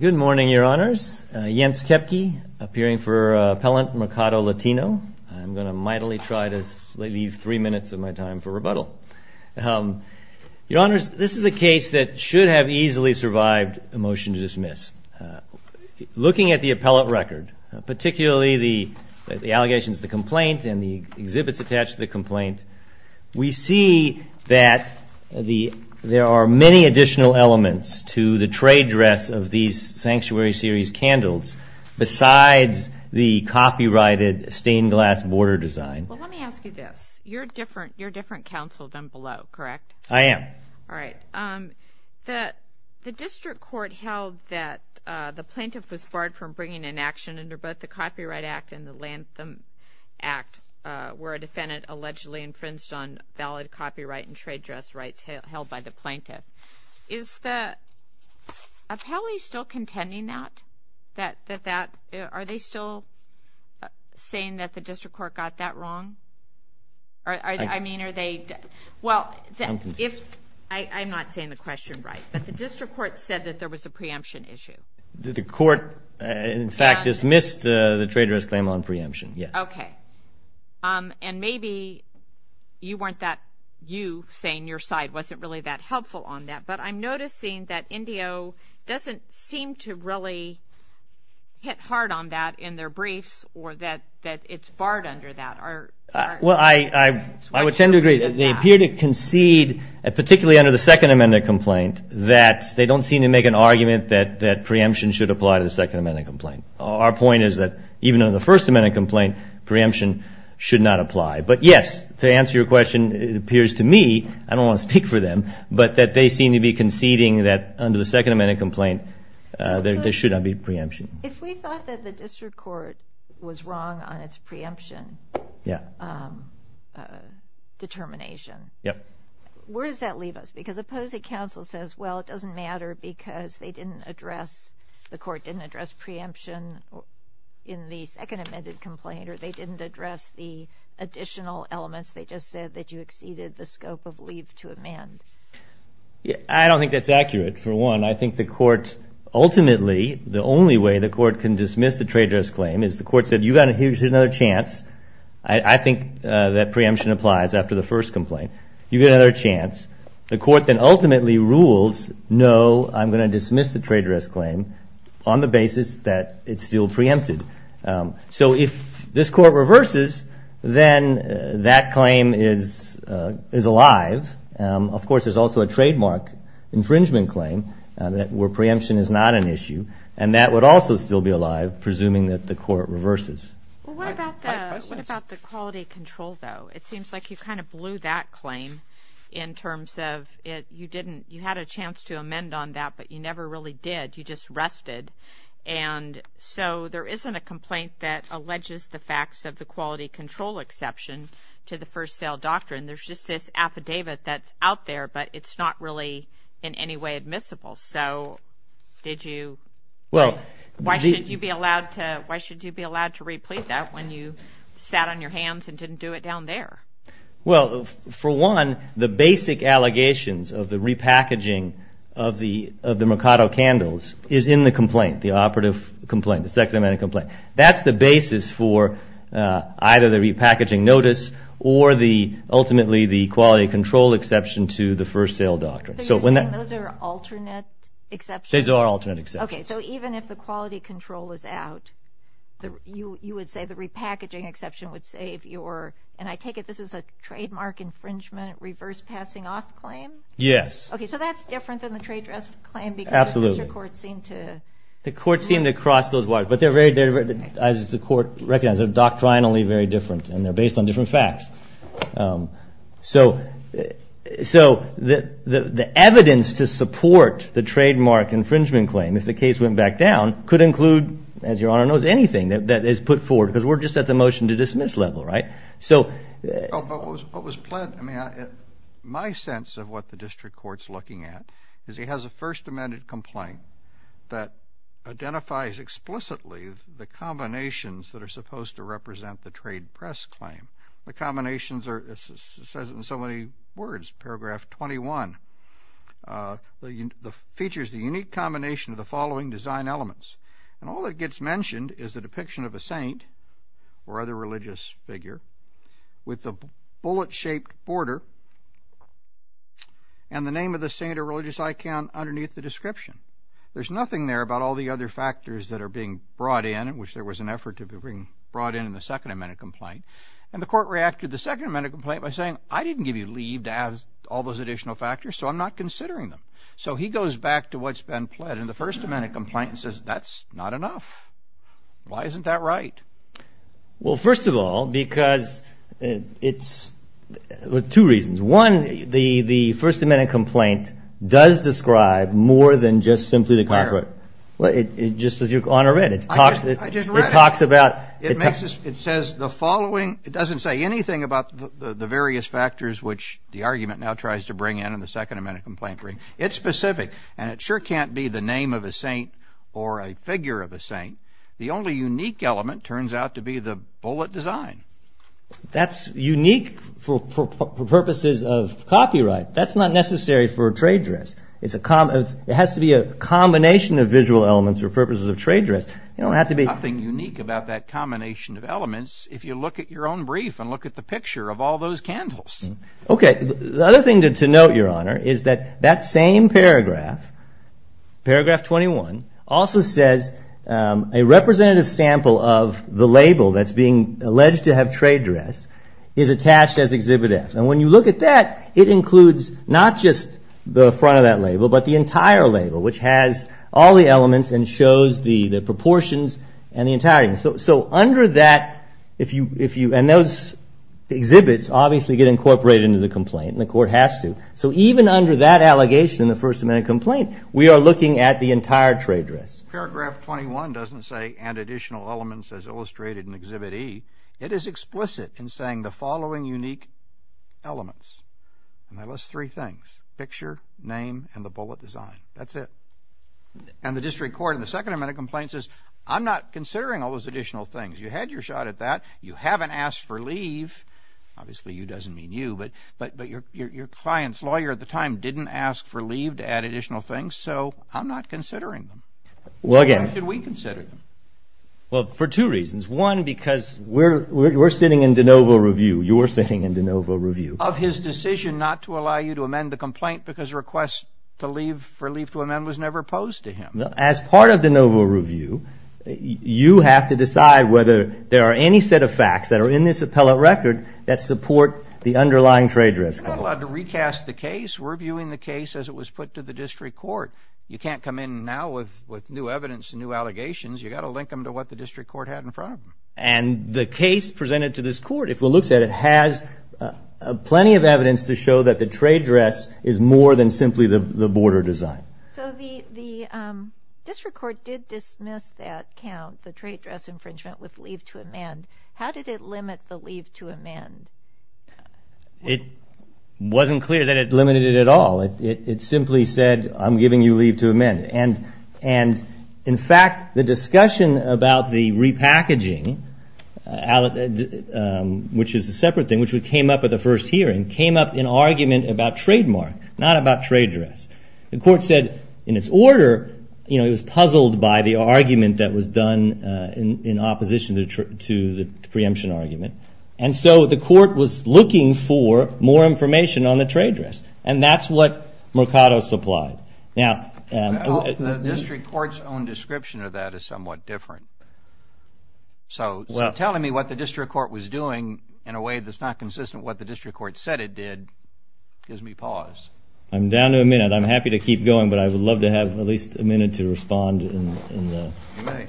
Good morning, Your Honors. Jens Kepke, appearing for Appellant Mercado Latino. I'm going to mightily try to leave three minutes of my time for rebuttal. Your Honors, this is a case that should have easily survived a motion to dismiss. Looking at the appellate record, particularly the allegations of the complaint and the exhibits attached to the complaint, we see that there are many additional elements to the trade dress of these Sanctuary Series candles besides the copyrighted stained glass border design. Well, let me ask you this. You're different counsel than below, correct? I am. All right. The district court held that the plaintiff was barred from bringing an action under both the Copyright Act and the Lantham Act where a defendant allegedly infringed on valid copyright and trade dress rights held by the plaintiff. Is the appellee still contending that? Are they still saying that the district court got that wrong? I'm not saying the question right, but the district court said that there was a preemption issue. The court, in fact, dismissed the trade dress claim on preemption, yes. Okay. And maybe you weren't that – you saying your side wasn't really that helpful on that, but I'm noticing that NDO doesn't seem to really hit hard on that in their briefs or that it's barred under that. Well, I would tend to agree. They appear to concede, particularly under the Second Amendment complaint, that they don't seem to make an argument that preemption should apply to the Second Amendment complaint. Our point is that even under the First Amendment complaint, preemption should not apply. But yes, to answer your question, it appears to me – I don't want to speak for them – but that they seem to be conceding that under the Second Amendment complaint, there should not be preemption. If we thought that the district court was wrong on its preemption determination, where does that leave us? Because suppose a counsel says, well, it doesn't matter because they didn't address – the court didn't address preemption in the Second Amendment complaint or they didn't address the additional elements. They just said that you exceeded the scope of leave to amend. I don't think that's accurate, for one. I think the court – ultimately, the only way the court can dismiss the traitorous claim is the court said, you got another chance. I think that preemption applies after the first complaint. You get another chance. The court then ultimately rules, no, I'm going to dismiss the traitorous claim on the basis that it's still preempted. So if this court reverses, then that claim is alive. Of course, there's also a trademark infringement claim where preemption is not an issue, and that would also still be alive, presuming that the court reverses. Well, what about the quality control, though? It seems like you kind of blew that claim in terms of you didn't – you had a chance to amend on that, but you never really did. You just rested, and so there isn't a complaint that alleges the facts of the quality control exception to the first sale doctrine. There's just this affidavit that's out there, but it's not really in any way admissible. So did you – why should you be allowed to – why should you be allowed to replete that when you sat on your hands and didn't do it down there? Well, for one, the basic allegations of the repackaging of the Mercado candles is in the complaint, the operative complaint, the second amendment complaint. That's the basis for either the repackaging notice or the – ultimately, the quality control exception to the first sale doctrine. So you're saying those are alternate exceptions? Those are alternate exceptions. Okay, so even if the quality control is out, you would say the repackaging exception would save your – and I take it this is a trademark infringement reverse passing off claim? Yes. Okay, so that's different than the trade dress claim because Mr. Court seemed to – The court seemed to cross those wires, but they're very – as the court recognizes, they're doctrinally very different, and they're based on different facts. So the evidence to support the trademark infringement claim, if the case went back down, could include, as Your Honor knows, anything that is put forward because we're just at the motion to dismiss level, right? What was – my sense of what the district court's looking at is he has a first amended complaint that identifies explicitly the combinations that are supposed to represent the trade press claim. The combinations are – it says it in so many words, paragraph 21. It features the unique combination of the following design elements. And all that gets mentioned is the depiction of a saint or other religious figure with the bullet-shaped border and the name of the saint or religious icon underneath the description. There's nothing there about all the other factors that are being brought in, in which there was an effort to be brought in in the second amended complaint. And the court reacted to the second amended complaint by saying, I didn't give you leave to add all those additional factors, so I'm not considering them. So he goes back to what's been pled, and the first amended complaint says that's not enough. Why isn't that right? Well, first of all, because it's – two reasons. One, the first amended complaint does describe more than just simply the – Where? Well, it – just as Your Honor read. I just read it. It talks about – It makes us – it says the following – it doesn't say anything about the various factors which the argument now tries to bring in in the second amended complaint. It's specific, and it sure can't be the name of a saint or a figure of a saint. The only unique element turns out to be the bullet design. That's unique for purposes of copyright. That's not necessary for a trade dress. It's a – it has to be a combination of visual elements for purposes of trade dress. You don't have to be – Nothing unique about that combination of elements if you look at your own brief and look at the picture of all those candles. Okay, the other thing to note, Your Honor, is that that same paragraph, paragraph 21, also says a representative sample of the label that's being alleged to have trade dress is attached as Exhibit F. And when you look at that, it includes not just the front of that label but the entire label, which has all the elements and shows the proportions and the entirety. So under that, if you – and those exhibits obviously get incorporated into the complaint, and the court has to. So even under that allegation in the First Amendment complaint, we are looking at the entire trade dress. Paragraph 21 doesn't say add additional elements as illustrated in Exhibit E. It is explicit in saying the following unique elements. And I list three things, picture, name, and the bullet design. That's it. And the district court in the Second Amendment complaint says, I'm not considering all those additional things. You had your shot at that. You haven't asked for leave. Obviously, you doesn't mean you, but your client's lawyer at the time didn't ask for leave to add additional things, so I'm not considering them. Why should we consider them? Well, for two reasons. One, because we're sitting in de novo review. You're sitting in de novo review. Of his decision not to allow you to amend the complaint because request to leave for leave to amend was never posed to him. As part of de novo review, you have to decide whether there are any set of facts that are in this appellate record that support the underlying trade dress. We're not allowed to recast the case. We're viewing the case as it was put to the district court. You can't come in now with new evidence and new allegations. You've got to link them to what the district court had in front of them. And the case presented to this court, if one looks at it, has plenty of evidence to show that the trade dress is more than simply the border design. So the district court did dismiss that count, the trade dress infringement, with leave to amend. How did it limit the leave to amend? It wasn't clear that it limited it at all. In fact, the discussion about the repackaging, which is a separate thing, which came up at the first hearing, came up in argument about trademark, not about trade dress. The court said in its order it was puzzled by the argument that was done in opposition to the preemption argument. And so the court was looking for more information on the trade dress. And that's what Mercado supplied. The district court's own description of that is somewhat different. So telling me what the district court was doing in a way that's not consistent with what the district court said it did gives me pause. I'm down to a minute. I'm happy to keep going, but I would love to have at least a minute to respond. You may.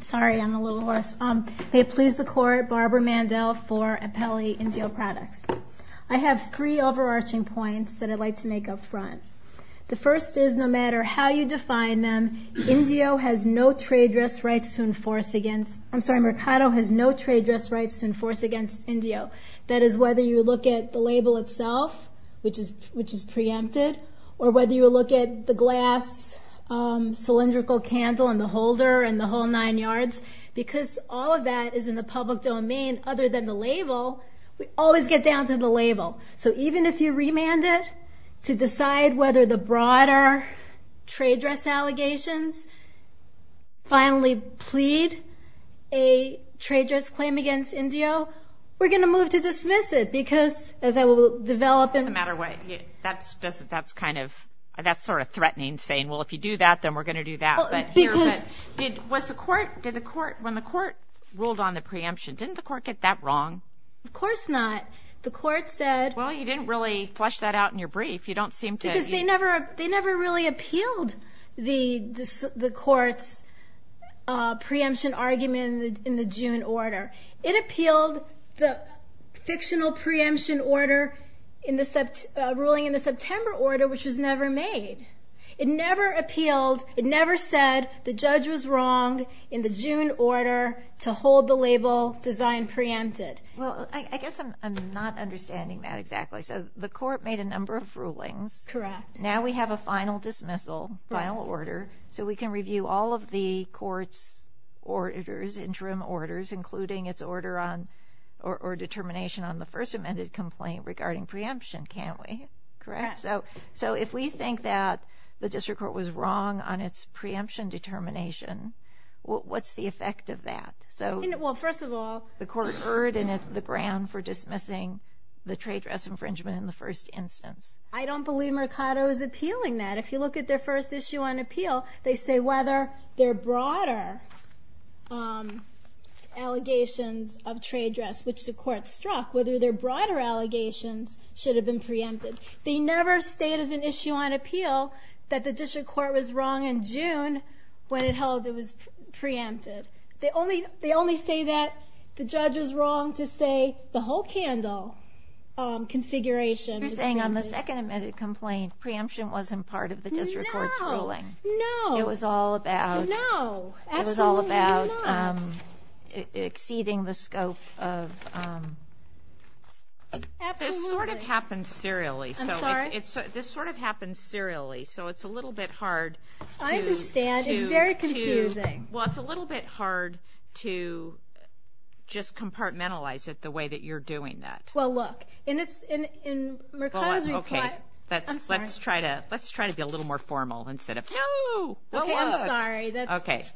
Sorry, I'm a little hoarse. May it please the court, Barbara Mandel for Appelli Indio Products. I have three overarching points that I'd like to make up front. The first is no matter how you define them, Indio has no trade dress rights to enforce against- I'm sorry, Mercado has no trade dress rights to enforce against Indio. That is whether you look at the label itself, which is preempted, or whether you look at the glass cylindrical candle and the holder and the whole nine yards, because all of that is in the public domain other than the label. We always get down to the label. So even if you remand it to decide whether the broader trade dress allegations finally plead a trade dress claim against Indio, we're going to move to dismiss it because, as I will develop in- That's sort of threatening, saying, well, if you do that, then we're going to do that. When the court ruled on the preemption, didn't the court get that wrong? Of course not. The court said- Well, you didn't really flesh that out in your brief. They never really appealed the court's preemption argument in the June order. It appealed the fictional preemption ruling in the September order, which was never made. It never appealed, it never said the judge was wrong in the June order to hold the label design preempted. Well, I guess I'm not understanding that exactly. So the court made a number of rulings. Correct. Now we have a final dismissal, final order, so we can review all of the court's orders, interim orders, including its order or determination on the first amended complaint regarding preemption, can't we? Correct? Correct. So if we think that the district court was wrong on its preemption determination, what's the effect of that? Well, first of all- The court erred, and it's the ground for dismissing the trade dress infringement in the first instance. I don't believe Mercado is appealing that. If you look at their first issue on appeal, they say whether their broader allegations of trade dress, which the court struck, whether their broader allegations should have been preempted. They never state as an issue on appeal that the district court was wrong in June when it held it was preempted. They only say that the judge was wrong to say the whole candle configuration was preempted. In the second amended complaint, preemption wasn't part of the district court's ruling. No. It was all about- No. Absolutely not. It was all about exceeding the scope of- Absolutely. This sort of happens serially. I'm sorry? This sort of happens serially, so it's a little bit hard to- I understand. It's very confusing. Well, it's a little bit hard to just compartmentalize it the way that you're doing that. Well, look, in Mercado's reply- Hold on, okay. I'm sorry. Let's try to be a little more formal instead of- No! Okay, I'm sorry. Okay.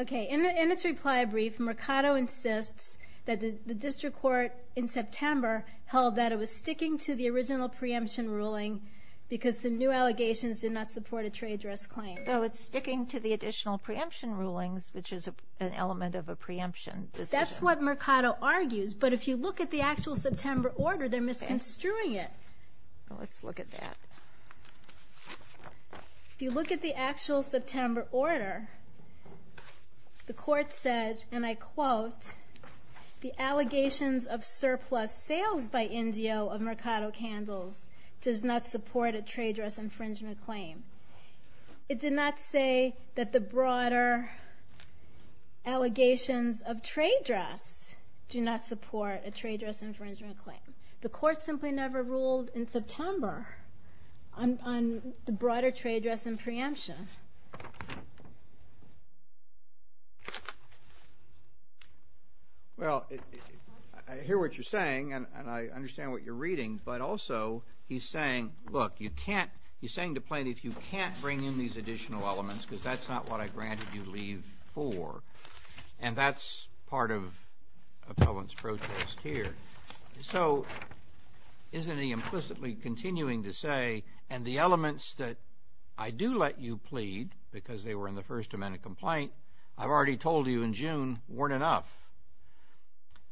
Okay, in its reply brief, Mercado insists that the district court in September held that it was sticking to the original preemption ruling because the new allegations did not support a trade dress claim. No, it's sticking to the additional preemption rulings, which is an element of a preemption decision. That's what Mercado argues, but if you look at the actual September order, they're misconstruing it. Let's look at that. If you look at the actual September order, the court said, and I quote, the allegations of surplus sales by Indio of Mercado Candles does not support a trade dress infringement claim. It did not say that the broader allegations of trade dress do not support a trade dress infringement claim. The court simply never ruled in September on the broader trade dress and preemption. Well, I hear what you're saying, and I understand what you're reading, but also, he's saying, look, you can't, he's saying to plaintiff, you can't bring in these additional elements because that's not what I granted you leave for, and that's part of appellant's protest here. So, isn't he implicitly continuing to say, and the elements that I do let you plead because they were in the First Amendment complaint, I've already told you in June weren't enough.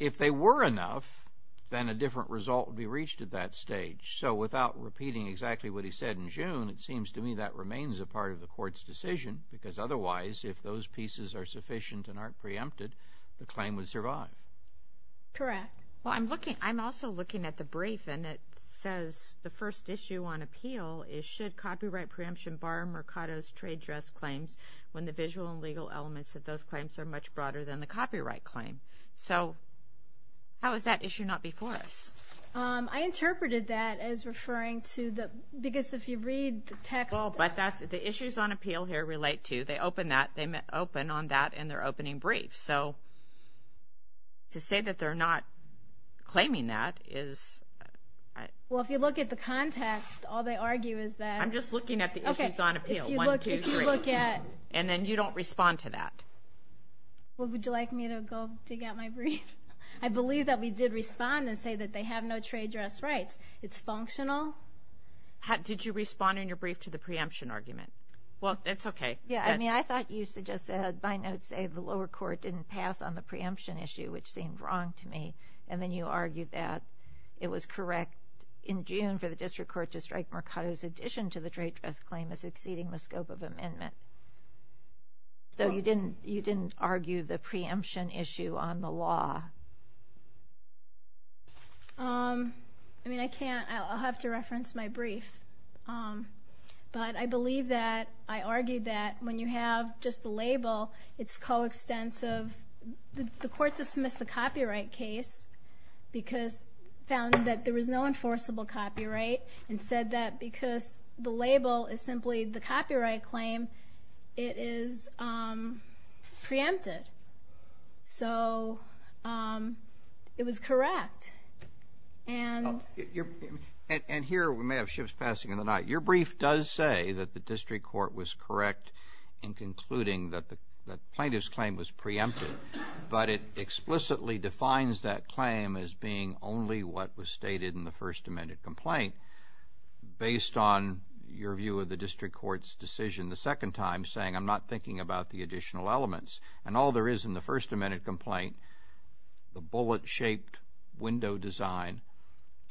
If they were enough, then a different result would be reached at that stage. So, without repeating exactly what he said in June, it seems to me that remains a part of the court's decision because otherwise, if those pieces are sufficient and aren't preempted, the claim would survive. Correct. Well, I'm looking, I'm also looking at the brief, and it says the first issue on appeal is, should copyright preemption bar Mercado's trade dress claims when the visual and legal elements of those claims are much broader than the copyright claim. So, how is that issue not before us? I interpreted that as referring to the, because if you read the text. Well, but that's, the issues on appeal here relate to, they open that, they open on that in their opening brief. So, to say that they're not claiming that is. Well, if you look at the context, all they argue is that. I'm just looking at the issues on appeal. One, two, three. If you look at. And then you don't respond to that. Well, would you like me to go dig out my brief? I believe that we did respond and say that they have no trade dress rights. It's functional. How, did you respond in your brief to the preemption argument? Well, it's okay. Yeah, I mean, I thought you suggested, by notes, say the lower court didn't pass on the preemption issue, which seemed wrong to me, and then you argued that it was correct in June for the district court to strike Mercado's addition to the trade dress claim as exceeding the scope of amendment. Though you didn't argue the preemption issue on the law. I mean, I can't, I'll have to reference my brief. But I believe that, I argued that when you have just the label, it's coextensive. The court dismissed the copyright case because it found that there was no enforceable copyright and said that because the label is simply the copyright claim, it is preempted. So it was correct. And here we may have shifts passing in the night. Your brief does say that the district court was correct in concluding that the plaintiff's claim was preempted. But it explicitly defines that claim as being only what was stated in the First Amendment complaint based on your view of the district court's decision the second time, saying I'm not thinking about the additional elements. And all there is in the First Amendment complaint, the bullet-shaped window design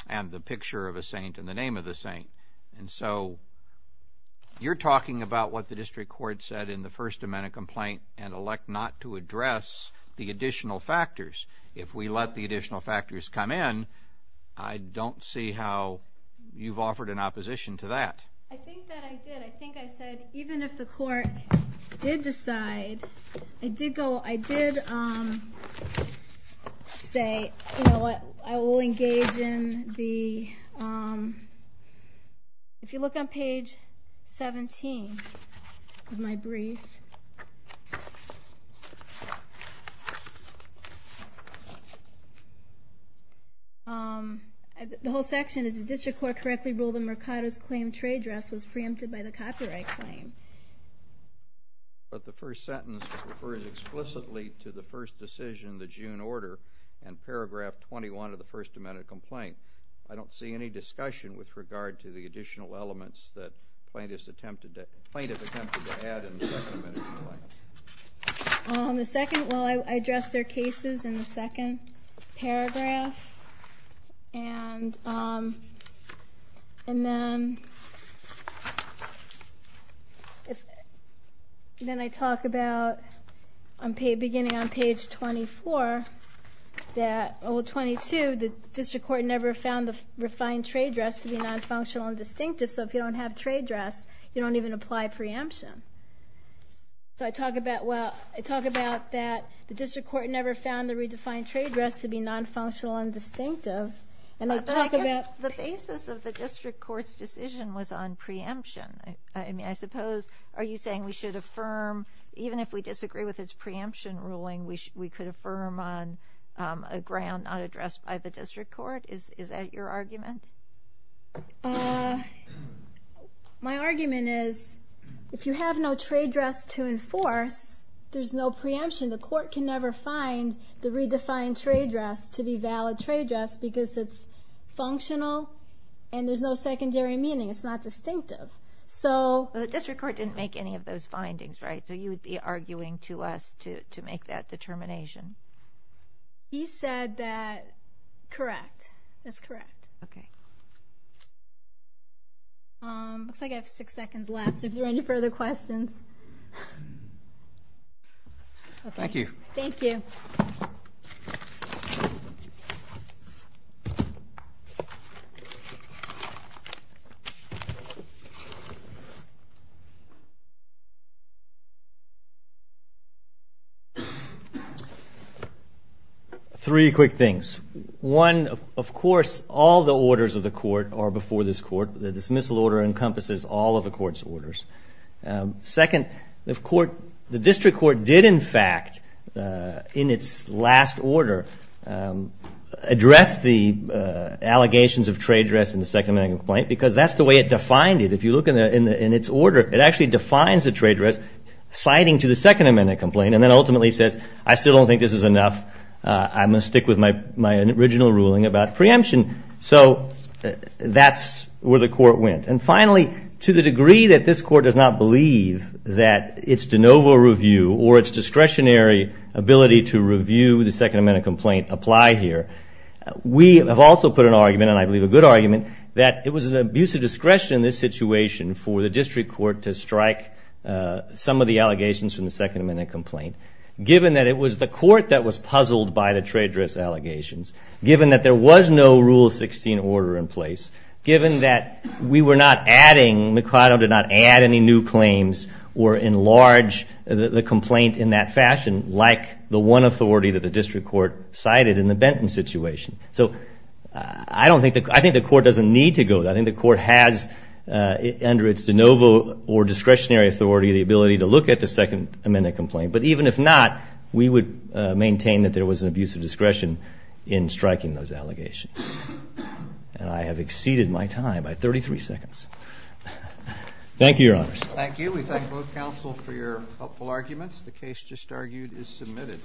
and the picture of a saint and the name of the saint. And so you're talking about what the district court said in the First Amendment complaint and elect not to address the additional factors. If we let the additional factors come in, I don't see how you've offered an opposition to that. I think that I did. I think I said even if the court did decide, I did say I will engage in the, if you look on page 17 of my brief, the whole section is the district court correctly ruled that Mercado's claim trade dress was preempted by the copyright claim. But the first sentence refers explicitly to the first decision, the June order, and paragraph 21 of the First Amendment complaint. I don't see any discussion with regard to the additional elements that plaintiff attempted to add in the Second Amendment complaint. The second, well, I addressed their cases in the second paragraph. And then I talk about beginning on page 24 that, well, 22, the district court never found the refined trade dress to be non-functional and distinctive. So if you don't have trade dress, you don't even apply preemption. So I talk about, well, I talk about that the district court never found the redefined trade dress to be non-functional and distinctive. And I talk about the basis of the district court's decision was on preemption. I mean, I suppose, are you saying we should affirm, even if we disagree with its preemption ruling, we could affirm on a ground not addressed by the district court? Is that your argument? My argument is if you have no trade dress to enforce, there's no preemption. The court can never find the redefined trade dress to be valid trade dress because it's functional and there's no secondary meaning. It's not distinctive. So the district court didn't make any of those findings, right? So you would be arguing to us to make that determination. He said that. Correct. That's correct. Okay. Looks like I have six seconds left. If there are any further questions. Thank you. Thank you. Three quick things. One, of course, all the orders of the court are before this court. The dismissal order encompasses all of the court's orders. Second, the district court did, in fact, in its last order, address the allegations of trade dress in the Second Amendment complaint because that's the way it defined it. If you look in its order, it actually defines the trade dress citing to the Second Amendment complaint and then ultimately says, I still don't think this is enough. I'm going to stick with my original ruling about preemption. So that's where the court went. And finally, to the degree that this court does not believe that its de novo review or its discretionary ability to review the Second Amendment complaint apply here, we have also put an argument, and I believe a good argument, that it was an abuse of discretion in this situation for the district court to strike some of the allegations from the Second Amendment complaint, given that it was the court that was puzzled by the trade dress allegations, given that there was no Rule 16 order in place, given that we were not adding, McFarland did not add any new claims or enlarge the complaint in that fashion, like the one authority that the district court cited in the Benton situation. So I think the court doesn't need to go there. I think the court has, under its de novo or discretionary authority, the ability to look at the Second Amendment complaint. But even if not, we would maintain that there was an abuse of discretion in striking those allegations. And I have exceeded my time by 33 seconds. Thank you, Your Honors. Thank you. We thank both counsel for your helpful arguments. The case just argued is submitted.